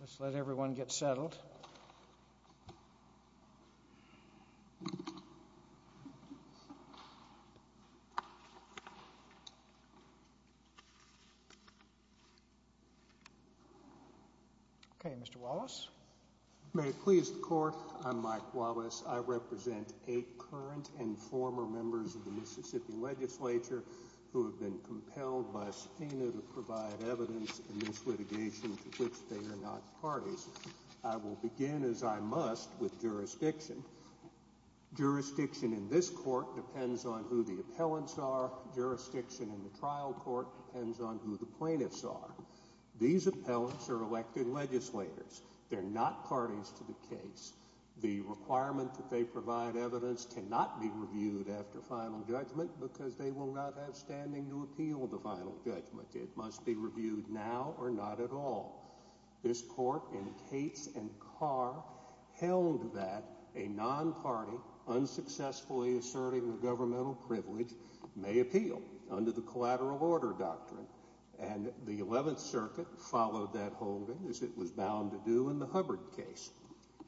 Let's let everyone get settled. May it please the Court, I'm Mike Wallace. I represent eight current and former members of the Mississippi Legislature who have been serving in the Mississippi Legislature for a number of years, and I will begin, as I must, with jurisdiction. Jurisdiction in this Court depends on who the appellants are. Jurisdiction in the trial court depends on who the plaintiffs are. These appellants are elected legislators. They're not parties to the case. The requirement that they provide evidence cannot be reviewed after final judgment because they will not have standing to appeal the final judgment. It must be reviewed now or not at all. This Court in Cates v. Carr held that a non-party unsuccessfully asserting a governmental privilege may appeal under the collateral order doctrine, and the Eleventh Circuit followed that holding as it was bound to do in the Hubbard case.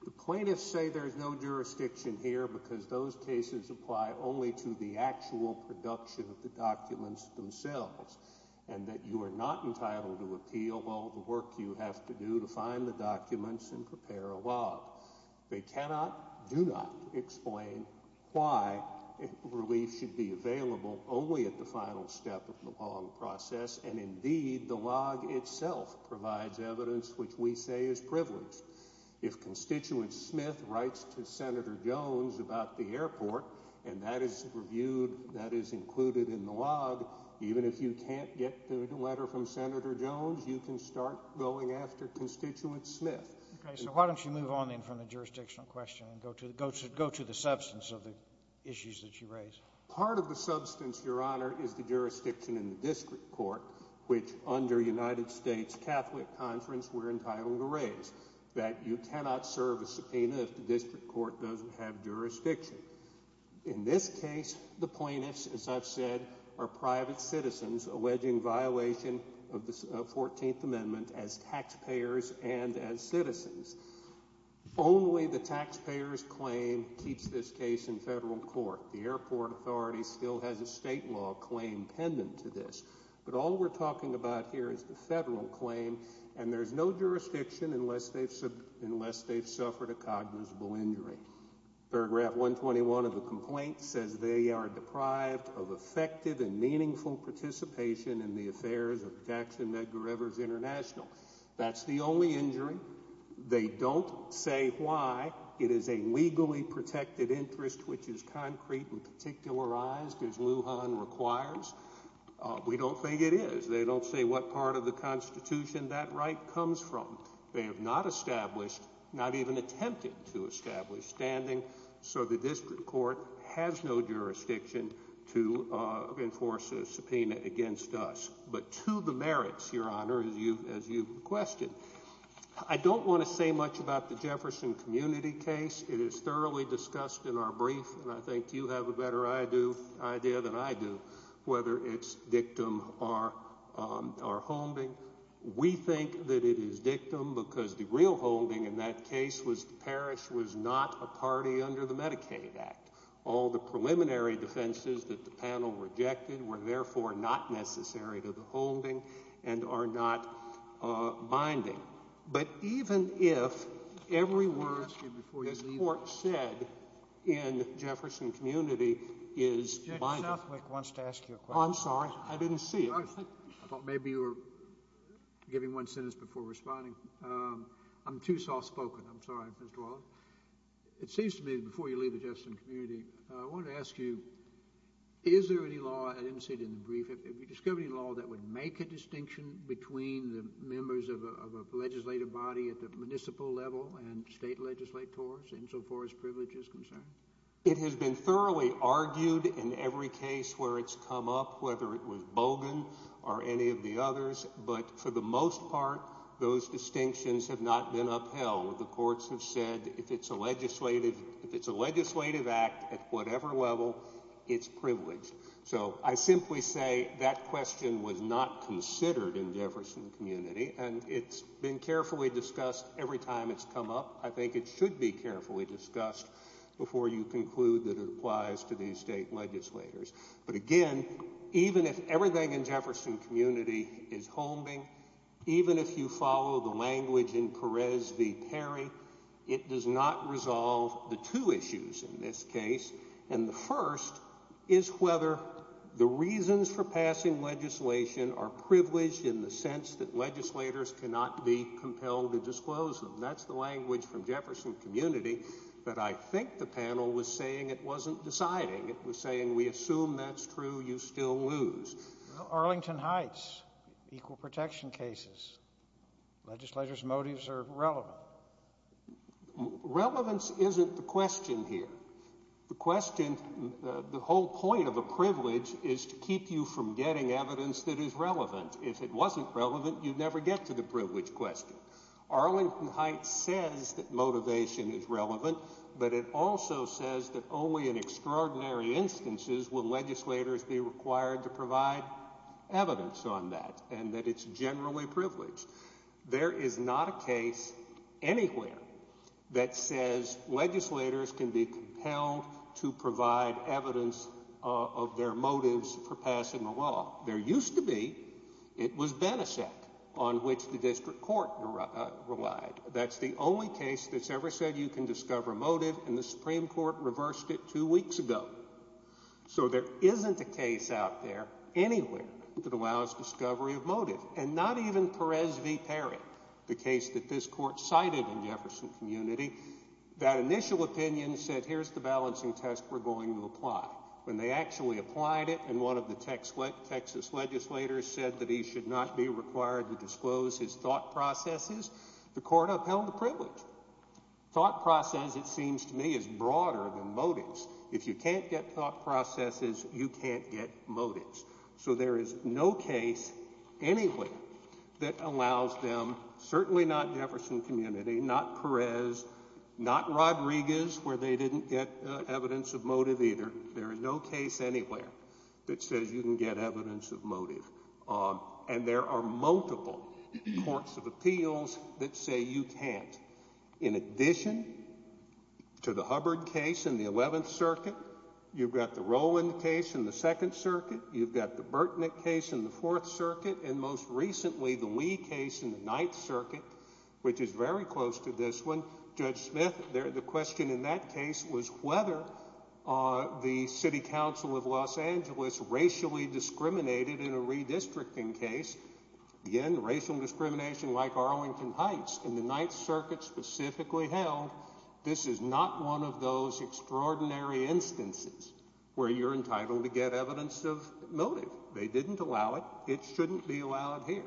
The plaintiffs say there's no jurisdiction here because those cases apply only to the actual production of the documents themselves, and that you are not entitled to appeal all the work you have to do to find the documents and prepare a log. They cannot, do not, explain why relief should be available only at the final step of the long process, and indeed, the log itself provides evidence which we say is privileged. If Constituent Smith writes to Senator Jones about the airport, and that is reviewed, that if you can't get the letter from Senator Jones, you can start going after Constituent Smith. Okay. So why don't you move on then from the jurisdictional question and go to the substance of the issues that you raise? Part of the substance, Your Honor, is the jurisdiction in the district court, which under United States Catholic Conference we're entitled to raise, that you cannot serve a subpoena if the district court doesn't have jurisdiction. In this case, the plaintiffs, as I've said, are private citizens alleging violation of the 14th Amendment as taxpayers and as citizens. Only the taxpayers' claim keeps this case in federal court. The airport authority still has a state law claim pendant to this, but all we're talking about here is the federal claim, and there's no jurisdiction unless they've suffered a cognizable injury. Paragraph 121 of the complaint says they are deprived of effective and meaningful participation in the affairs of Jackson Medgar Evers International. That's the only injury. They don't say why. It is a legally protected interest, which is concrete and particularized, as Lujan requires. We don't think it is. They don't say what part of the Constitution that right comes from. They have not established, not even attempted to establish standing, so the district court has no jurisdiction to enforce a subpoena against us. But to the merits, Your Honor, as you've questioned, I don't want to say much about the Jefferson community case. It is thoroughly discussed in our brief, and I think you have a better idea than I do whether its dictum are homing. We think that it is dictum because the real holding in that case was the parish was not a party under the Medicaid Act. All the preliminary defenses that the panel rejected were therefore not necessary to the holding and are not binding. But even if every word this court said in the Jefferson community is binding. Judge Southwick wants to ask you a question. I'm sorry. I didn't see you. I thought maybe you were giving one sentence before responding. I'm too soft-spoken. I'm sorry, Mr. Wallace. It seems to me before you leave the Jefferson community, I want to ask you, is there any law, I didn't see it in the brief, have you discovered any law that would make a distinction between the members of a legislative body at the municipal level and state legislators insofar as privilege is concerned? It has been thoroughly argued in every case where it's come up, whether it was Bogan or any of the others, but for the most part, those distinctions have not been upheld. The courts have said if it's a legislative act at whatever level, it's privileged. So I simply say that question was not considered in Jefferson community and it's been carefully discussed every time it's come up. I think it should be carefully discussed before you conclude that it applies to these state legislators. But again, even if everything in Jefferson community is holding, even if you follow the language in Perez v. Perry, it does not resolve the two issues in this case. And the first is whether the reasons for passing legislation are privileged in the sense that legislators cannot be compelled to disclose them. And that's the language from Jefferson community that I think the panel was saying it wasn't deciding. It was saying, we assume that's true, you still lose. Arlington Heights, equal protection cases, legislators' motives are relevant. Relevance isn't the question here. The question, the whole point of a privilege is to keep you from getting evidence that is relevant. If it wasn't relevant, you'd never get to the privilege question. Arlington Heights says that motivation is relevant, but it also says that only in extraordinary instances will legislators be required to provide evidence on that and that it's generally privileged. There is not a case anywhere that says legislators can be compelled to provide evidence of their motives for passing the law. There used to be, it was Benesec on which the district court relied. That's the only case that's ever said you can discover a motive and the Supreme Court reversed it two weeks ago. So there isn't a case out there anywhere that allows discovery of motive. And not even Perez v. Perry, the case that this court cited in Jefferson community, that initial opinion said here's the balancing test we're going to apply. When they actually applied it and one of the Texas legislators said that he should not be required to disclose his thought processes, the court upheld the privilege. Thought process, it seems to me, is broader than motives. If you can't get thought processes, you can't get motives. So there is no case anywhere that allows them, certainly not Jefferson community, not Perez, not Rodriguez where they didn't get evidence of motive either. There is no case anywhere that says you can get evidence of motive. And there are multiple courts of appeals that say you can't. In addition to the Hubbard case in the 11th Circuit, you've got the Rowland case in the 2nd Circuit, you've got the Burtnick case in the 4th Circuit, and most recently the very close to this one, Judge Smith, the question in that case was whether the City Council of Los Angeles racially discriminated in a redistricting case, again racial discrimination like Arlington Heights, in the 9th Circuit specifically held this is not one of those extraordinary instances where you're entitled to get evidence of motive. They didn't allow it. It shouldn't be allowed here.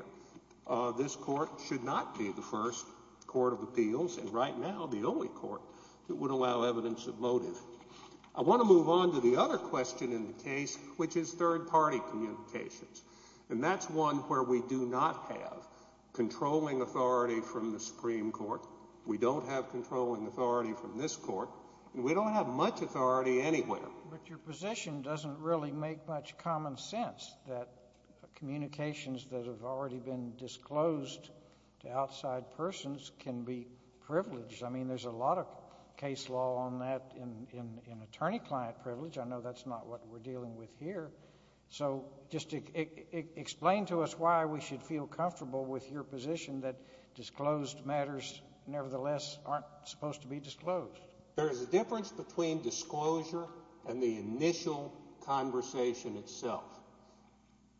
This court should not be the first court of appeals and right now the only court that would allow evidence of motive. I want to move on to the other question in the case, which is third-party communications. And that's one where we do not have controlling authority from the Supreme Court. We don't have controlling authority from this court. We don't have much authority anywhere. But your position doesn't really make much common sense that communications that have already been disclosed to outside persons can be privileged. I mean, there's a lot of case law on that in attorney-client privilege. I know that's not what we're dealing with here. So just explain to us why we should feel comfortable with your position that disclosed matters nevertheless aren't supposed to be disclosed. There is a difference between disclosure and the initial conversation itself.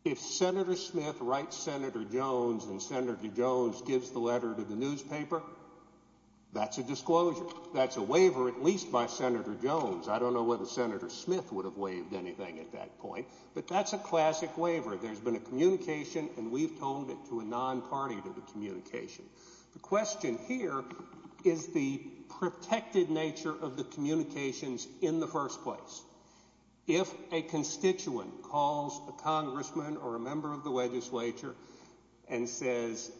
If Senator Smith writes Senator Jones and Senator Jones gives the letter to the newspaper, that's a disclosure. That's a waiver, at least by Senator Jones. I don't know whether Senator Smith would have waived anything at that point, but that's a classic waiver. There's been a communication and we've toned it to a non-party to the communication. The question here is the protected nature of the communications in the first place. If a constituent calls a congressman or a member of the legislature and says,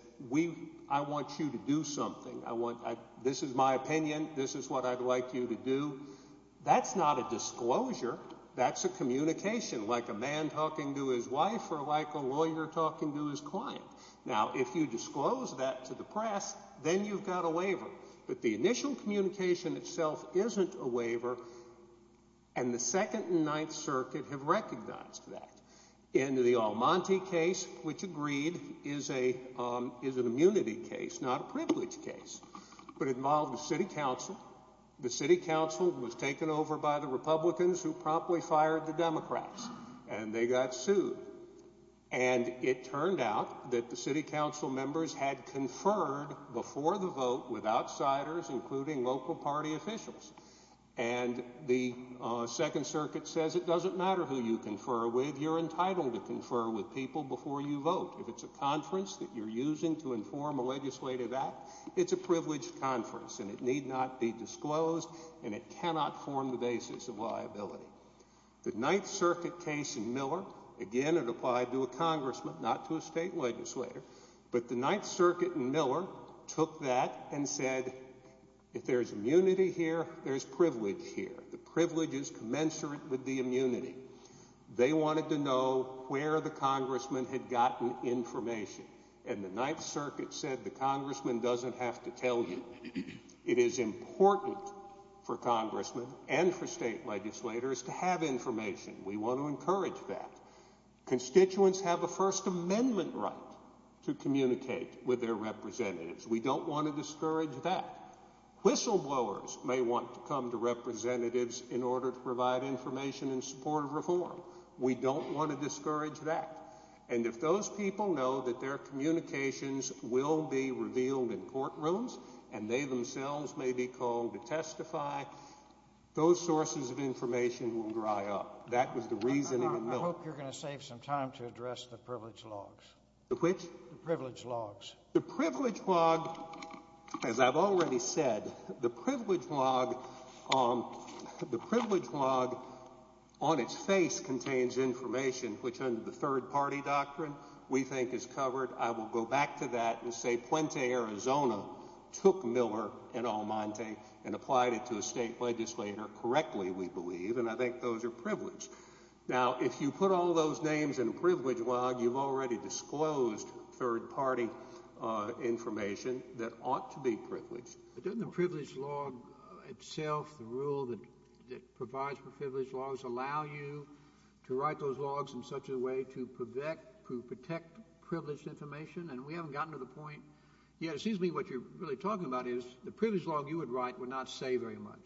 I want you to do something, this is my opinion, this is what I'd like you to do, that's not a disclosure. That's a communication, like a man talking to his wife or like a lawyer talking to his client. Now if you disclose that to the press, then you've got a waiver. But the initial communication itself isn't a waiver and the Second and Ninth Circuit have recognized that. In the Almonte case, which agreed, is an immunity case, not a privilege case, but it involved the city council. The city council was taken over by the Republicans who promptly fired the Democrats and they got sued. And it turned out that the city council members had conferred before the vote with outsiders, including local party officials. And the Second Circuit says it doesn't matter who you confer with, you're entitled to confer with people before you vote. If it's a conference that you're using to inform a legislative act, it's a privileged conference and it need not be disclosed and it cannot form the basis of liability. The Ninth Circuit case in Miller, again it applied to a congressman, not to a state legislator, but the Ninth Circuit in Miller took that and said if there's immunity here, there's privilege here. The privilege is commensurate with the immunity. They wanted to know where the congressman had gotten information. And the Ninth Circuit said the congressman doesn't have to tell you. It is important for congressmen and for state legislators to have information. We want to encourage that. Constituents have a First Amendment right to communicate with their representatives. We don't want to discourage that. Whistleblowers may want to come to representatives in order to provide information in support of reform. We don't want to discourage that. And if those people know that their communications will be revealed in courtrooms and they themselves may be called to testify, those sources of information will dry up. That was the reasoning in Miller. I hope you're going to save some time to address the privilege logs. The which? The privilege logs. The privilege log, as I've already said, the privilege log on its face contains information which under the third-party doctrine we think is covered. I will go back to that and say Puente, Arizona took Miller and Almonte and applied it to a state legislator correctly, we believe, and I think those are privileged. Now, if you put all those names in a privilege log, you've already disclosed third-party information that ought to be privileged. But doesn't the privilege log itself, the rule that provides for privilege logs, allow you to write those logs in such a way to protect privileged information? And we haven't gotten to the point yet. It seems to me what you're really talking about is the privilege log you would write would not say very much.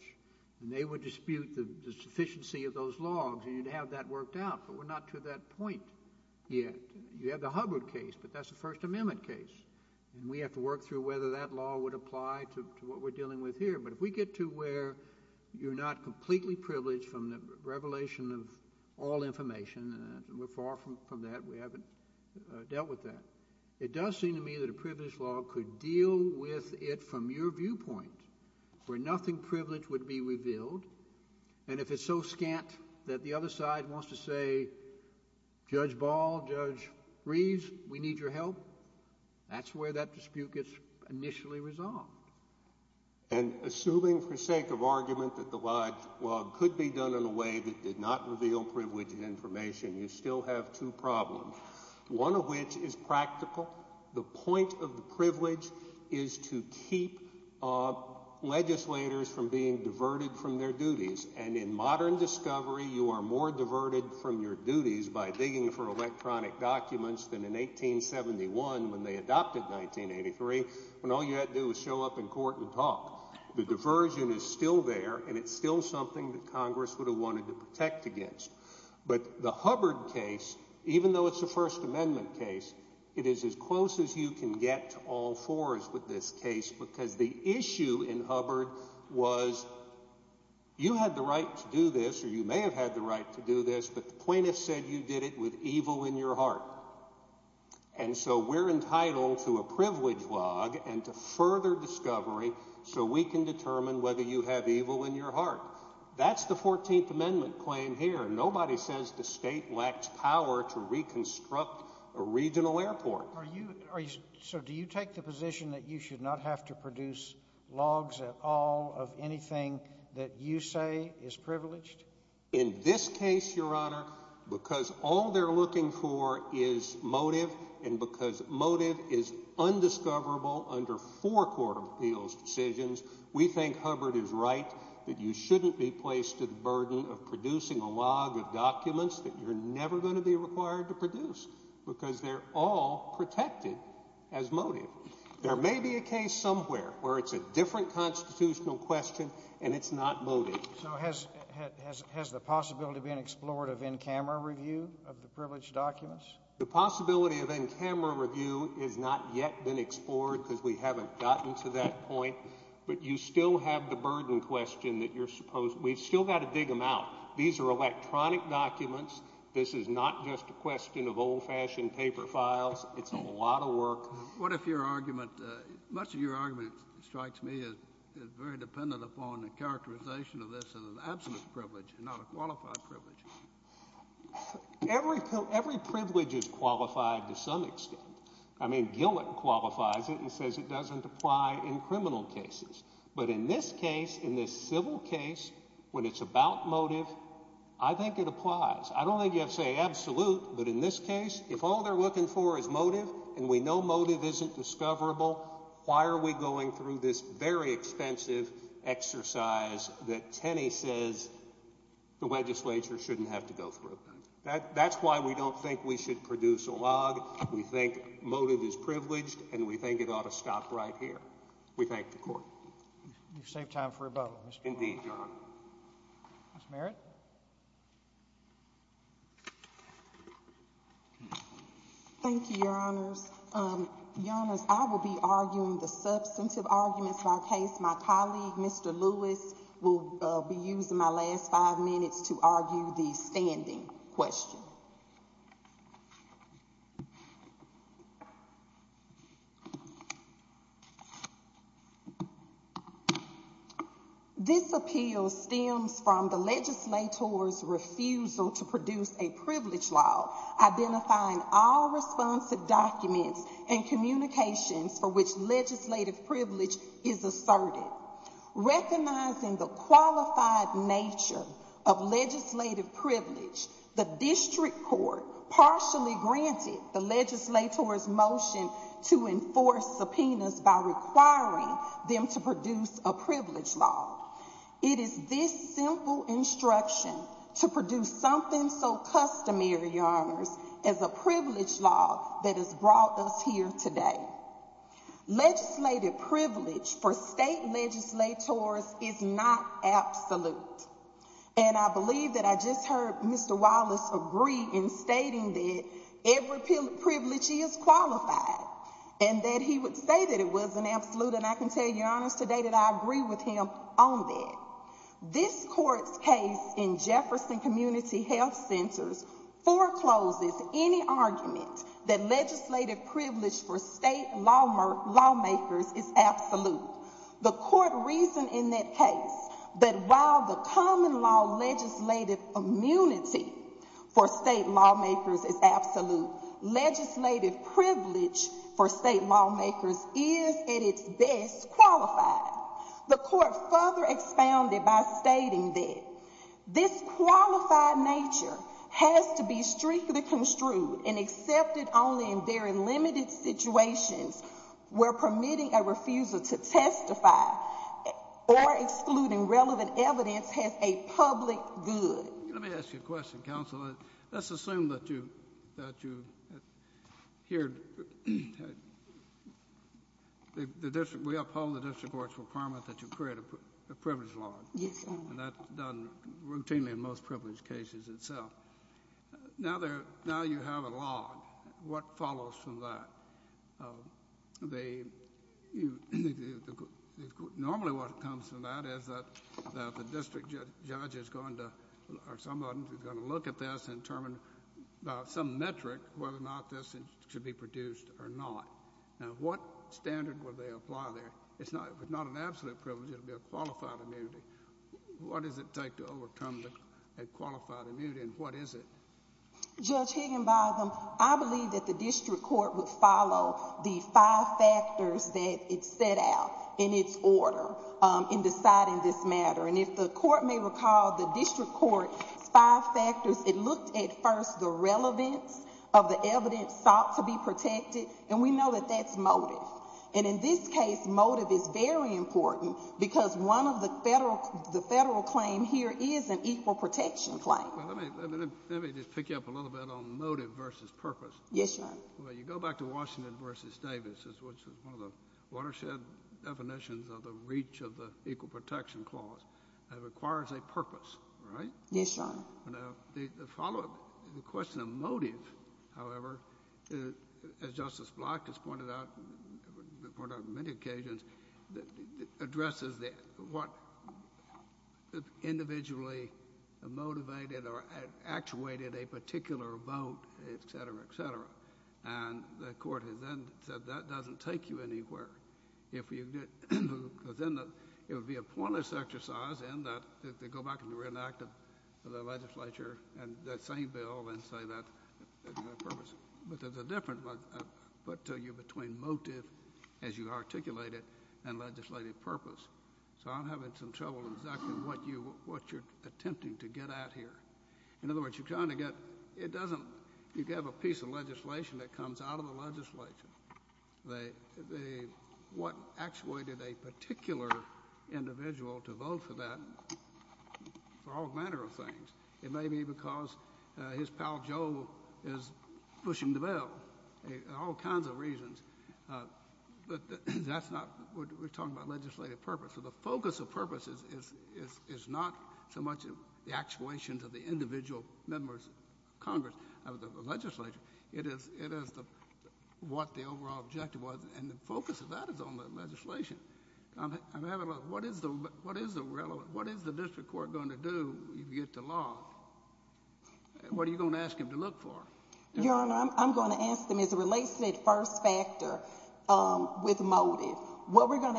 And they would dispute the sufficiency of those logs and you'd have that worked out. But we're not to that point yet. You have the Hubbard case, but that's a First Amendment case. And we have to work through whether that law would apply to what we're dealing with here. But if we get to where you're not completely privileged from the revelation of all information, and we're far from that, we haven't dealt with that, it does seem to me that a privilege log could deal with it from your viewpoint where nothing privileged would be revealed. And if it's so scant that the other side wants to say, Judge Ball, Judge Reeves, we need your help, that's where that dispute gets initially resolved. And assuming for sake of argument that the log could be done in a way that did not reveal privileged information, you still have two problems, one of which is practical. The point of the privilege is to keep legislators from being diverted from their duties. And in modern discovery, you are more diverted from your duties by digging for electronic in court and talk. The diversion is still there, and it's still something that Congress would have wanted to protect against. But the Hubbard case, even though it's a First Amendment case, it is as close as you can get to all fours with this case, because the issue in Hubbard was you had the right to do this, or you may have had the right to do this, but the plaintiff said you did it with evil in your heart. And so we're entitled to a privilege log and to further discovery so we can determine whether you have evil in your heart. That's the 14th Amendment claim here. Nobody says the state lacks power to reconstruct a regional airport. So do you take the position that you should not have to produce logs at all of anything that you say is privileged? In this case, Your Honor, because all they're looking for is motive and because motive is undiscoverable under four court of appeals decisions, we think Hubbard is right that you shouldn't be placed to the burden of producing a log of documents that you're never going to be required to produce, because they're all protected as motive. There may be a case somewhere where it's a different constitutional question and it's not motive. So has the possibility been explored of in-camera review of the privileged documents? The possibility of in-camera review has not yet been explored because we haven't gotten to that point, but you still have the burden question that you're supposed to—we've still got to dig them out. These are electronic documents. This is not just a question of old-fashioned paper files. It's a lot of work. What if your argument—much of your argument, it strikes me, is very dependent upon the fact that this is an absolute privilege and not a qualified privilege. Every privilege is qualified to some extent. I mean, Gillett qualifies it and says it doesn't apply in criminal cases. But in this case, in this civil case, when it's about motive, I think it applies. I don't think you have to say absolute, but in this case, if all they're looking for is motive and we know motive isn't discoverable, why are we going through this very expensive exercise that Tenney says the legislature shouldn't have to go through? That's why we don't think we should produce a log. We think motive is privileged, and we think it ought to stop right here. We thank the Court. You've saved time for rebuttal, Mr. Warren. Indeed, Your Honor. Ms. Merritt? Thank you, Your Honors. Your Honors, I will be arguing the substantive arguments of our case. My colleague, Mr. Lewis, will be using my last five minutes to argue the standing question. This appeal stems from the legislator's refusal to produce a privilege law, identifying all correspondence documents and communications for which legislative privilege is asserted. Recognizing the qualified nature of legislative privilege, the District Court partially granted the legislator's motion to enforce subpoenas by requiring them to produce a privilege law. It is this simple instruction to produce something so customary, Your Honors, as a privilege law that has brought us here today. Legislative privilege for state legislators is not absolute. And I believe that I just heard Mr. Wallace agree in stating that every privilege is qualified, and that he would say that it wasn't absolute, and I can tell Your Honors today that I agree with him on that. This Court's case in Jefferson Community Health Centers forecloses any argument that legislative privilege for state lawmakers is absolute. The Court reasoned in that case that while the common law legislative immunity for state lawmakers is absolute, legislative privilege for state lawmakers is, at its best, qualified. The Court further expounded by stating that this qualified nature has to be strictly construed and accepted only in very limited situations where permitting a refusal to testify or excluding relevant evidence has a public good. Well, let's assume that you... that you... here... the district... we uphold the district court's requirement that you create a privilege law, and that's done routinely in most privilege cases itself. Now there... now you have a law. What follows from that? The... normally what comes from that is that the district judge is going to... or some of them are going to look at this and determine by some metric whether or not this should be produced or not. Now what standard would they apply there? It's not... it's not an absolute privilege. It would be a qualified immunity. What does it take to overcome a qualified immunity, and what is it? Judge Higginbotham, I believe that the district court would follow the five factors that it set out in its order in deciding this matter, and if the court may recall, the district court's five factors, it looked at first the relevance of the evidence sought to be protected, and we know that that's motive, and in this case, motive is very important because one of the federal... the federal claim here is an equal protection claim. Well, let me... let me... let me just pick you up a little bit on motive versus purpose. Yes, Your Honor. Well, you go back to Washington v. Davis, which is one of the watershed definitions of the reach of the equal protection clause, and it requires a purpose, right? Yes, Your Honor. Now, the follow-up, the question of motive, however, as Justice Black has pointed out... pointed out on many occasions, addresses the... what individually motivated or actuated a particular vote, et cetera, et cetera, and the court has then said that doesn't take you anywhere. If you... because then it would be a pointless exercise in that... if they go back and reenact the legislature and that same bill and say that... but there's a different... but you're between motive, as you articulate it, and legislative purpose, so I'm having some trouble exactly what you... what you're attempting to get at here. In other words, you're trying to get... it doesn't... you have a piece of legislation that comes out of the legislature. What actuated a particular individual to vote for that, for all manner of things? It may be because his pal Joe is pushing the bill, all kinds of reasons, but that's not... we're talking about legislative purpose, so the focus of purpose is not so much the individual members of Congress, of the legislature. It is what the overall objective was, and the focus of that is on the legislation. What is the relevant... what is the district court going to do if you get the law? What are you going to ask them to look for? Your Honor, I'm going to ask them, as it relates to that first factor with motive, what we're the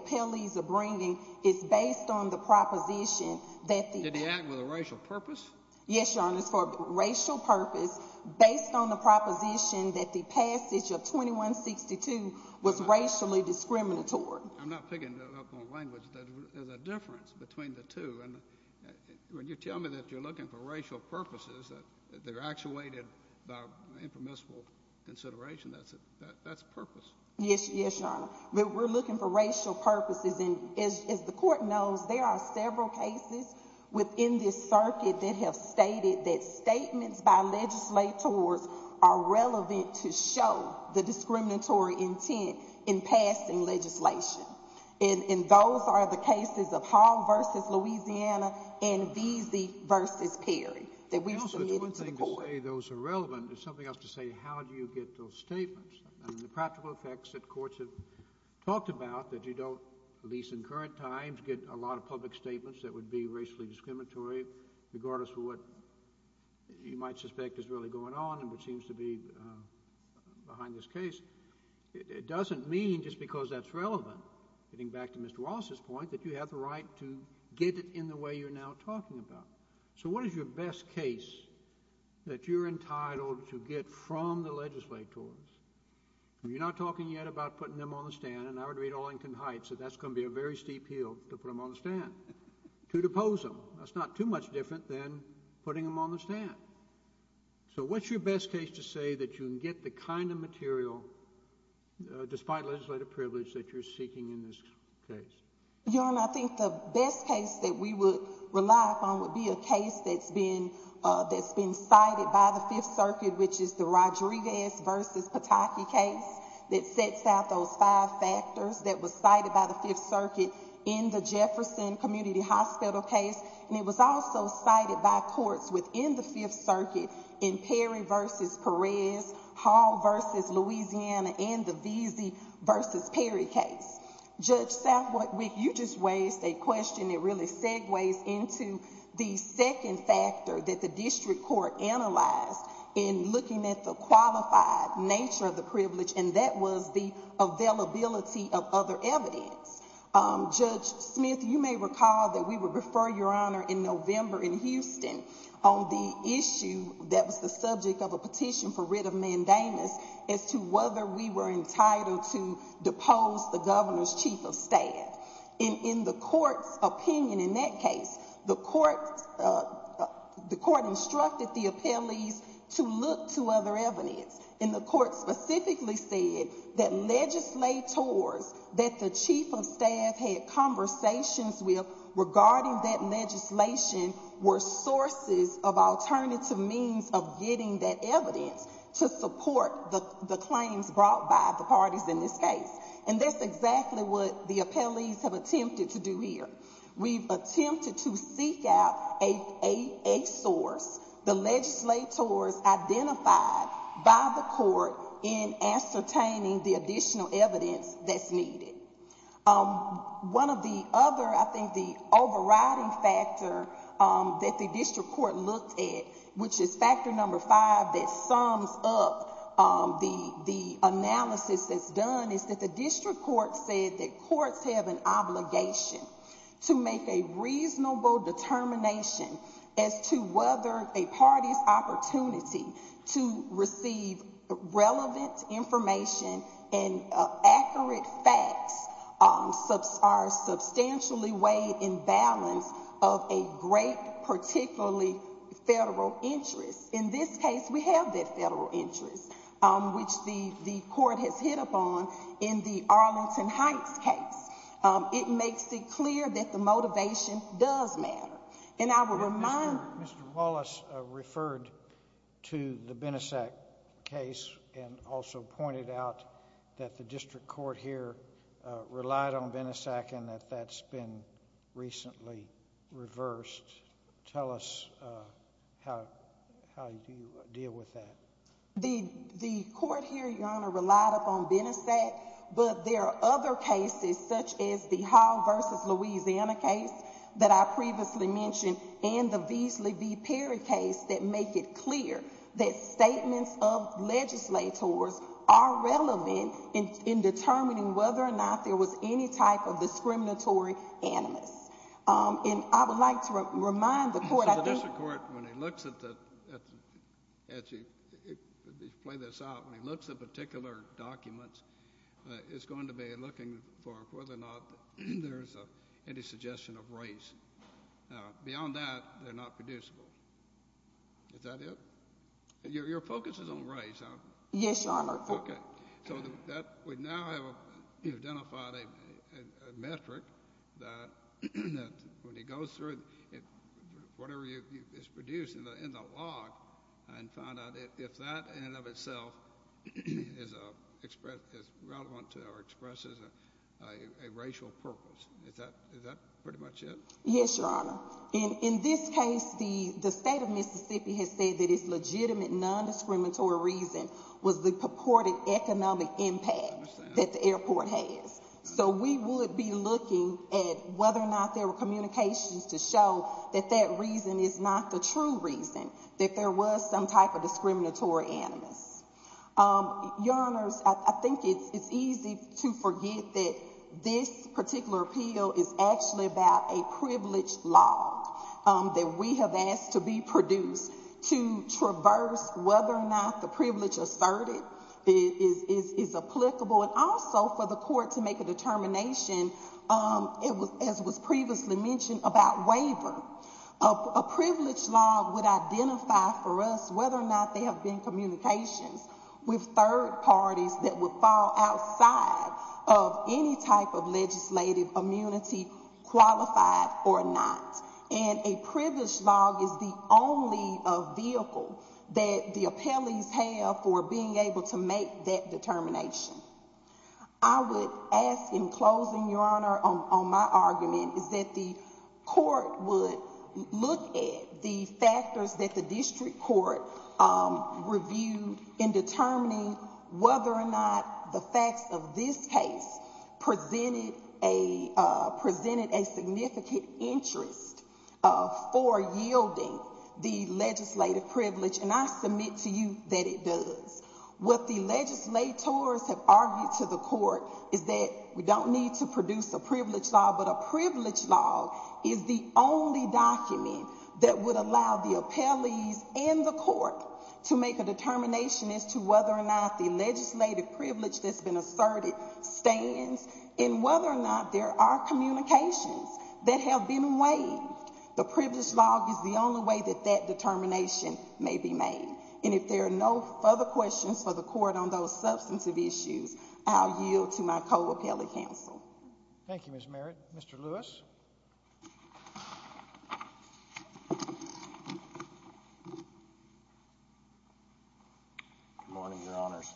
appellees are bringing is based on the proposition that the... Did he act with a racial purpose? Yes, Your Honor. It's for a racial purpose, based on the proposition that the passage of 2162 was racially discriminatory. I'm not picking that up on language, but there's a difference between the two, and when you tell me that you're looking for racial purposes, that they're actuated by impermissible consideration, that's purpose. Yes, Your Honor. We're looking for racial purposes, and as the court knows, there are several cases within this circuit that have stated that statements by legislators are relevant to show the discriminatory intent in passing legislation, and those are the cases of Hall v. Louisiana and Veazey v. Perry, that we submitted to the court. Counsel, it's one thing to say those are relevant, but it's something else to say, how do you get those statements? I mean, the practical effects that courts have talked about, that you don't, at least in current times, get a lot of public statements that would be racially discriminatory, regardless of what you might suspect is really going on and what seems to be behind this case, it doesn't mean, just because that's relevant, getting back to Mr. Wallace's point, that you have the right to get it in the way you're now talking about. So what is your best case that you're entitled to get from the legislators? You're not talking yet about putting them on the stand, and I would read Olinkin Heights that that's going to be a very steep hill to put them on the stand, to depose them. That's not too much different than putting them on the stand. So what's your best case to say that you can get the kind of material, despite legislative privilege, that you're seeking in this case? Your Honor, I think the best case that we would rely upon would be a case that's been cited by the Fifth Circuit, which is the Rodriguez v. Pataki case that sets out those five factors that was cited by the Fifth Circuit in the Jefferson Community Hospital case, and it was also cited by courts within the Fifth Circuit in Perry v. Perez, Hall v. Louisiana, and the Veazey v. Perry case. Judge Southwick, you just raised a question that really segues into the second factor that the district court analyzed in looking at the qualified nature of the privilege, and that was the availability of other evidence. Judge Smith, you may recall that we were referring, Your Honor, in November in Houston on the issue that was the subject of a petition for writ of mandamus as to whether we were entitled to depose the governor's chief of staff. In the court's opinion in that case, the court instructed the appellees to look to other evidence, and the court specifically said that legislators that the chief of staff had conversations with regarding that legislation were sources of alternative means of getting that evidence to support the claims brought by the parties in this case. And that's exactly what the appellees have attempted to do here. We've attempted to seek out a source, the legislators identified by the court in ascertaining the additional evidence that's needed. One of the other, I think, the overriding factor that the district court looked at, which is factor number five that sums up the analysis that's done, is that the district court said that courts have an obligation to make a reasonable determination as to whether a party's opportunity to receive relevant information and accurate facts are substantially weighed in balance of a great, particularly federal interest. In this case, we have that federal interest, which the court has hit upon in the Arlington Heights case. It makes it clear that the motivation does matter. And I would remind— Mr. Wallace referred to the Benesac case and also pointed out that the district court here relied on Benesac and that that's been recently reversed. Tell us how you deal with that. The court here, Your Honor, relied upon Benesac, but there are other cases such as the Hall v. Louisiana case that I previously mentioned and the Veasley v. Perry case that make it I think the district court, when it looks at the—as you play this out, when it looks at particular documents, it's going to be looking for whether or not there's any suggestion of race. Beyond that, they're not producible. Is that it? Your focus is on race, huh? Yes, Your Honor. Okay. So that would now have identified a metric that when it goes through, whatever is produced in the log, and find out if that in and of itself is relevant to or expresses a racial purpose. Is that pretty much it? Yes, Your Honor. In this case, the state of Mississippi has said that its legitimate nondiscriminatory reason was the purported economic impact that the airport has. So we would be looking at whether or not there were communications to show that that reason is not the true reason that there was some type of discriminatory animus. Your Honors, I think it's easy to forget that this particular appeal is actually about a privilege asserted, is applicable, and also for the court to make a determination, as was previously mentioned, about waiver. A privilege log would identify for us whether or not there have been communications with third parties that would fall outside of any type of legislative immunity qualified or not. And a privilege log is the only vehicle that the appellees have for being able to make that determination. I would ask, in closing, Your Honor, on my argument, is that the court would look at the factors that the district court reviewed in determining whether or not the facts of this case presented a significant interest for yielding the legislative privilege, and I submit to you that it does. What the legislators have argued to the court is that we don't need to produce a privilege log, but a privilege log is the only document that would allow the appellees and the court to make a determination as to whether or not the legislative privilege that's been asserted stands, and whether or not there are communications that have been waived. The privilege log is the only way that that determination may be made, and if there are no further questions for the court on those substantive issues, I'll yield to my co-appellee counsel. Thank you, Ms. Merritt. Mr. Lewis? Good morning, Your Honors.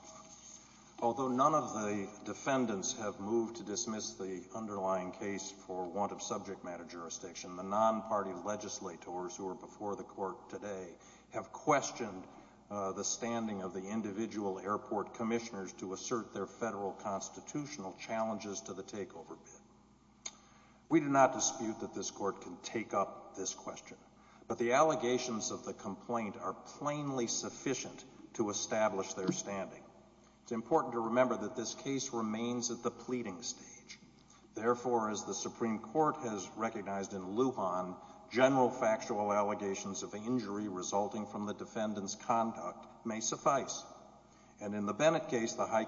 Although none of the defendants have moved to dismiss the underlying case for want of subject matter jurisdiction, the non-party legislators who are before the court today have questioned the standing of the individual airport commissioners to assert their federal constitutional challenges to the takeover bid. We do not dispute that this court can take up this question, but the allegations of the complaint are plainly sufficient to establish their standing. It's important to remember that this case remains at the pleading stage. Therefore, as the Supreme Court has recognized in Lujan, general factual allegations of injury resulting from the defendant's conduct may suffice, and in the Bennett case, the High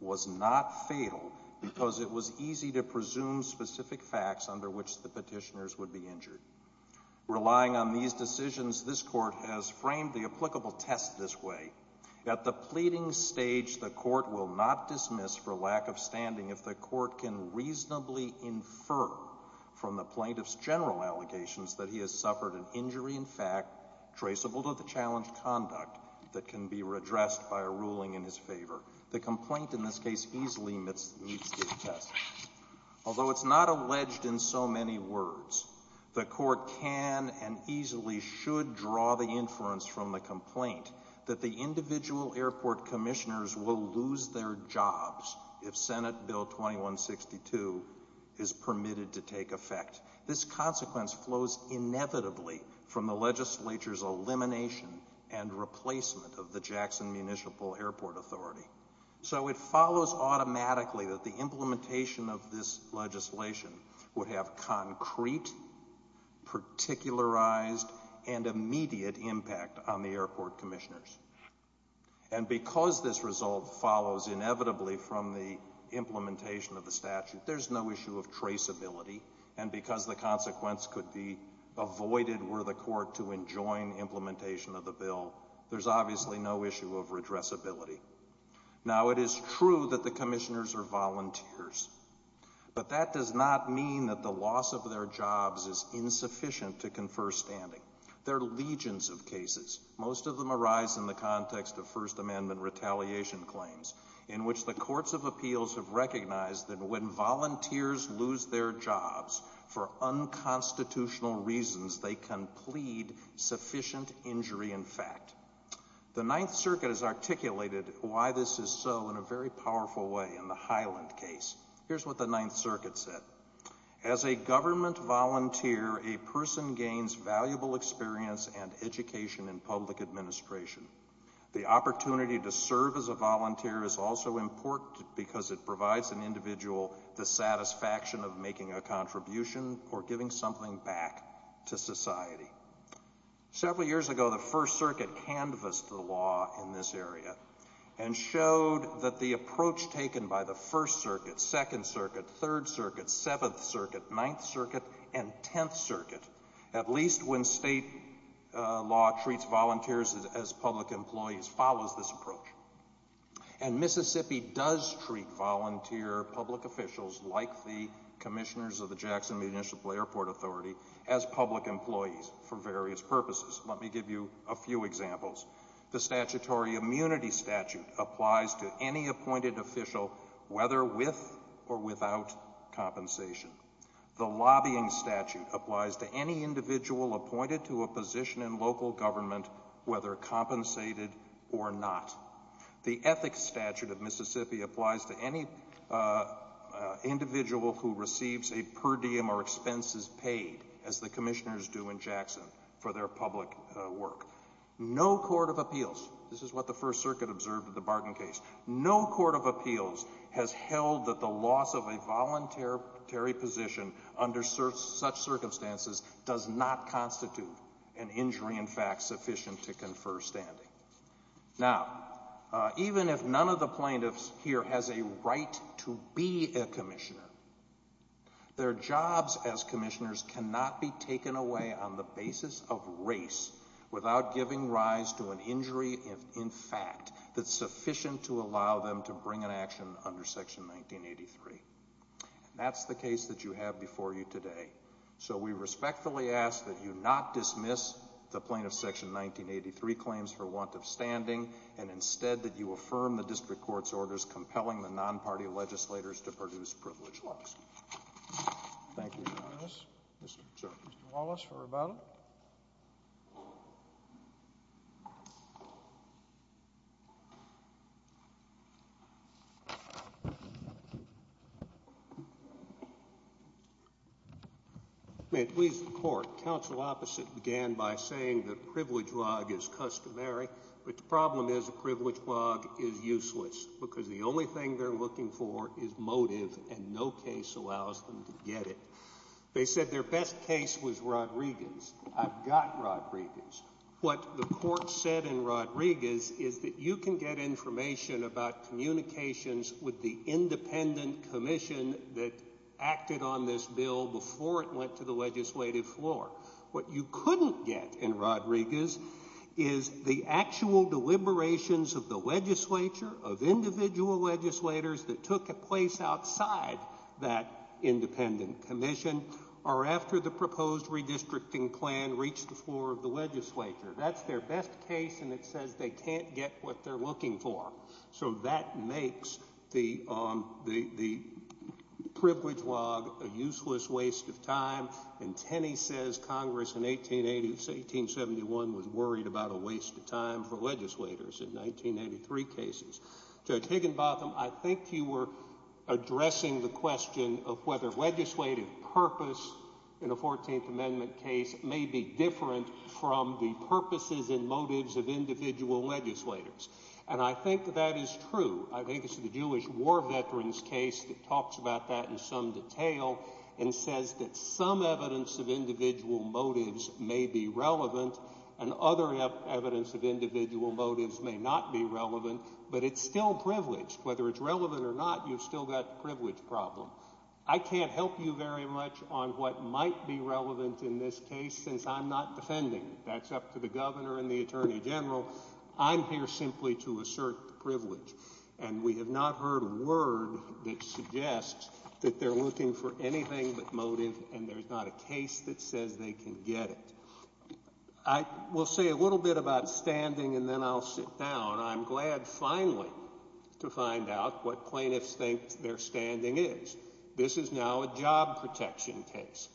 was not fatal because it was easy to presume specific facts under which the petitioners would be injured. Relying on these decisions, this court has framed the applicable test this way. At the pleading stage, the court will not dismiss for lack of standing if the court can reasonably infer from the plaintiff's general allegations that he has suffered an injury in fact traceable to the challenged conduct that can be redressed by a ruling in his favor. The complaint in this case easily meets these tests. Although it's not alleged in so many words, the court can and easily should draw the inference from the complaint that the individual airport commissioners will lose their jobs if Senate Bill 2162 is permitted to take effect. This consequence flows inevitably from the legislature's elimination and replacement of the Jackson Municipal Airport Authority. So it follows automatically that the implementation of this legislation would have concrete, particularized and immediate impact on the airport commissioners. And because this result follows inevitably from the implementation of the statute, there's no issue of traceability. And because the consequence could be avoided were the court to enjoin implementation of the bill, there's obviously no issue of redressability. Now it is true that the commissioners are volunteers. But that does not mean that the loss of their jobs is insufficient to confer standing. There are legions of cases, most of them arise in the context of First Amendment retaliation claims, in which the courts of appeals have recognized that when volunteers lose their The Ninth Circuit has articulated why this is so in a very powerful way in the Highland case. Here's what the Ninth Circuit said. As a government volunteer, a person gains valuable experience and education in public administration. The opportunity to serve as a volunteer is also important because it provides an individual the satisfaction of making a contribution or giving something back to society. Several years ago, the First Circuit canvassed the law in this area and showed that the approach taken by the First Circuit, Second Circuit, Third Circuit, Seventh Circuit, Ninth Circuit, and Tenth Circuit, at least when state law treats volunteers as public employees, follows this approach. And Mississippi does treat volunteer public officials, like the commissioners of the Jackson Municipal Airport Authority, as public employees for various purposes. Let me give you a few examples. The statutory immunity statute applies to any appointed official, whether with or without compensation. The lobbying statute applies to any individual appointed to a position in local government, whether compensated or not. The ethics statute of Mississippi applies to any individual who receives a per diem or expenses paid, as the commissioners do in Jackson, for their public work. No court of appeals, this is what the First Circuit observed in the Barton case, no court of appeals has held that the loss of a voluntary position under such circumstances does not constitute an injury, in fact, sufficient to confer standing. Now, even if none of the plaintiffs here has a right to be a commissioner, their jobs as commissioners cannot be taken away on the basis of race without giving rise to an injury, in fact, that's sufficient to allow them to bring an action under Section 1983. That's the case that you have before you today. So we respectfully ask that you not dismiss the plaintiff's Section 1983 claims for want of standing, and instead that you affirm the district court's orders compelling the non-party legislators to produce privileged looks. May it please the Court, Counsel Opposite began by saying that a privilege log is customary, but the problem is a privilege log is useless, because the only thing they're looking for is motive, and no case allows them to get it. They said their best case was Rodriguez, I've got Rodriguez. What the Court said in Rodriguez is that you can get information about communications with the independent commission that acted on this bill before it went to the legislative floor. What you couldn't get in Rodriguez is the actual deliberations of the legislature, of individual legislators that took a place outside that independent commission, or after the proposed redistricting plan reached the floor of the legislature. That's their best case, and it says they can't get what they're looking for. So that makes the privilege log a useless waste of time, and Tenney says Congress in 1880, 1871, was worried about a waste of time for legislators in 1983 cases. Judge Higginbotham, I think you were addressing the question of whether legislative purpose in a 14th Amendment case may be different from the purposes and motives of individual legislators, and I think that is true. I think it's the Jewish war veterans case that talks about that in some detail and says that some evidence of individual motives may be relevant, and other evidence of individual motives may not be relevant, but it's still privileged. Whether it's relevant or not, you've still got the privilege problem. I can't help you very much on what might be relevant in this case, since I'm not defending. That's up to the governor and the attorney general. I'm here simply to assert privilege, and we have not heard a word that suggests that they're looking for anything but motive, and there's not a case that says they can get it. I will say a little bit about standing, and then I'll sit down. I'm glad, finally, to find out what plaintiffs think their standing is. This is now a job protection case.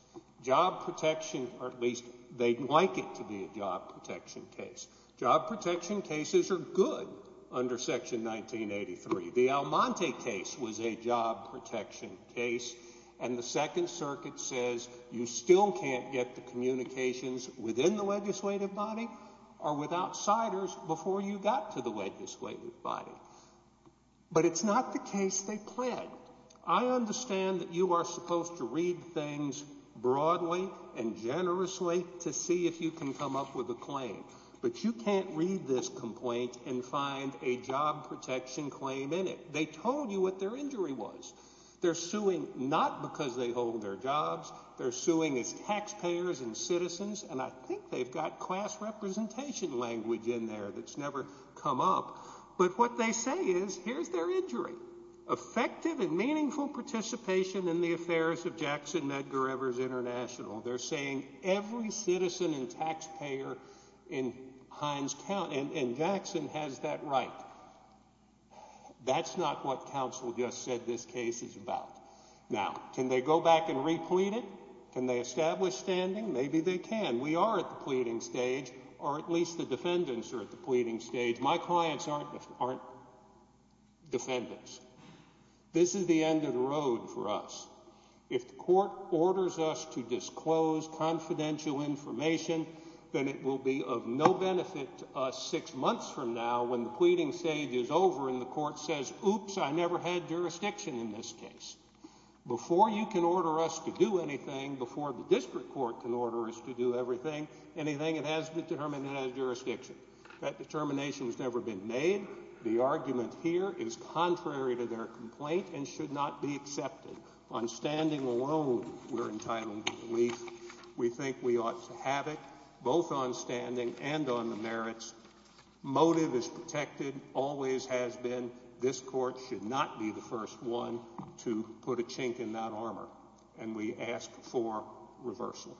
Job protection, or at least they'd like it to be a job protection case. Job protection cases are good under Section 1983. The Almonte case was a job protection case, and the Second Circuit says you still can't get the communications within the legislative body or with outsiders before you got to the legislative body, but it's not the case they pled. I understand that you are supposed to read things broadly and generously to see if you can come up with a claim, but you can't read this complaint and find a job protection claim in it. They told you what their injury was. They're suing not because they hold their jobs. They're suing as taxpayers and citizens, and I think they've got class representation language in there that's never come up, but what they say is, here's their injury. Effective and meaningful participation in the affairs of Jackson Medgar Evers International. They're saying every citizen and taxpayer in Hines County, and Jackson has that right. That's not what counsel just said this case is about. Now, can they go back and replete it? Can they establish standing? Maybe they can. We are at the pleading stage, or at least the defendants are at the pleading stage. My clients aren't defendants. This is the end of the road for us. If the court orders us to disclose confidential information, then it will be of no benefit to us six months from now when the pleading stage is over and the court says, oops, I never had jurisdiction in this case. Before you can order us to do anything, before the district court can order us to do anything, it has been determined it has jurisdiction. That determination has never been made. The argument here is contrary to their complaint and should not be accepted. On standing alone, we're entitled to belief. We think we ought to have it, both on standing and on the merits. Motive is protected, always has been. This court should not be the first one to put a chink in that armor, and we ask for reversal.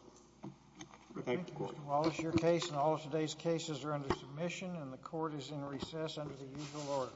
Thank you. Mr. Wallace, your case and all of today's cases are under submission and the court is in recess under the usual order.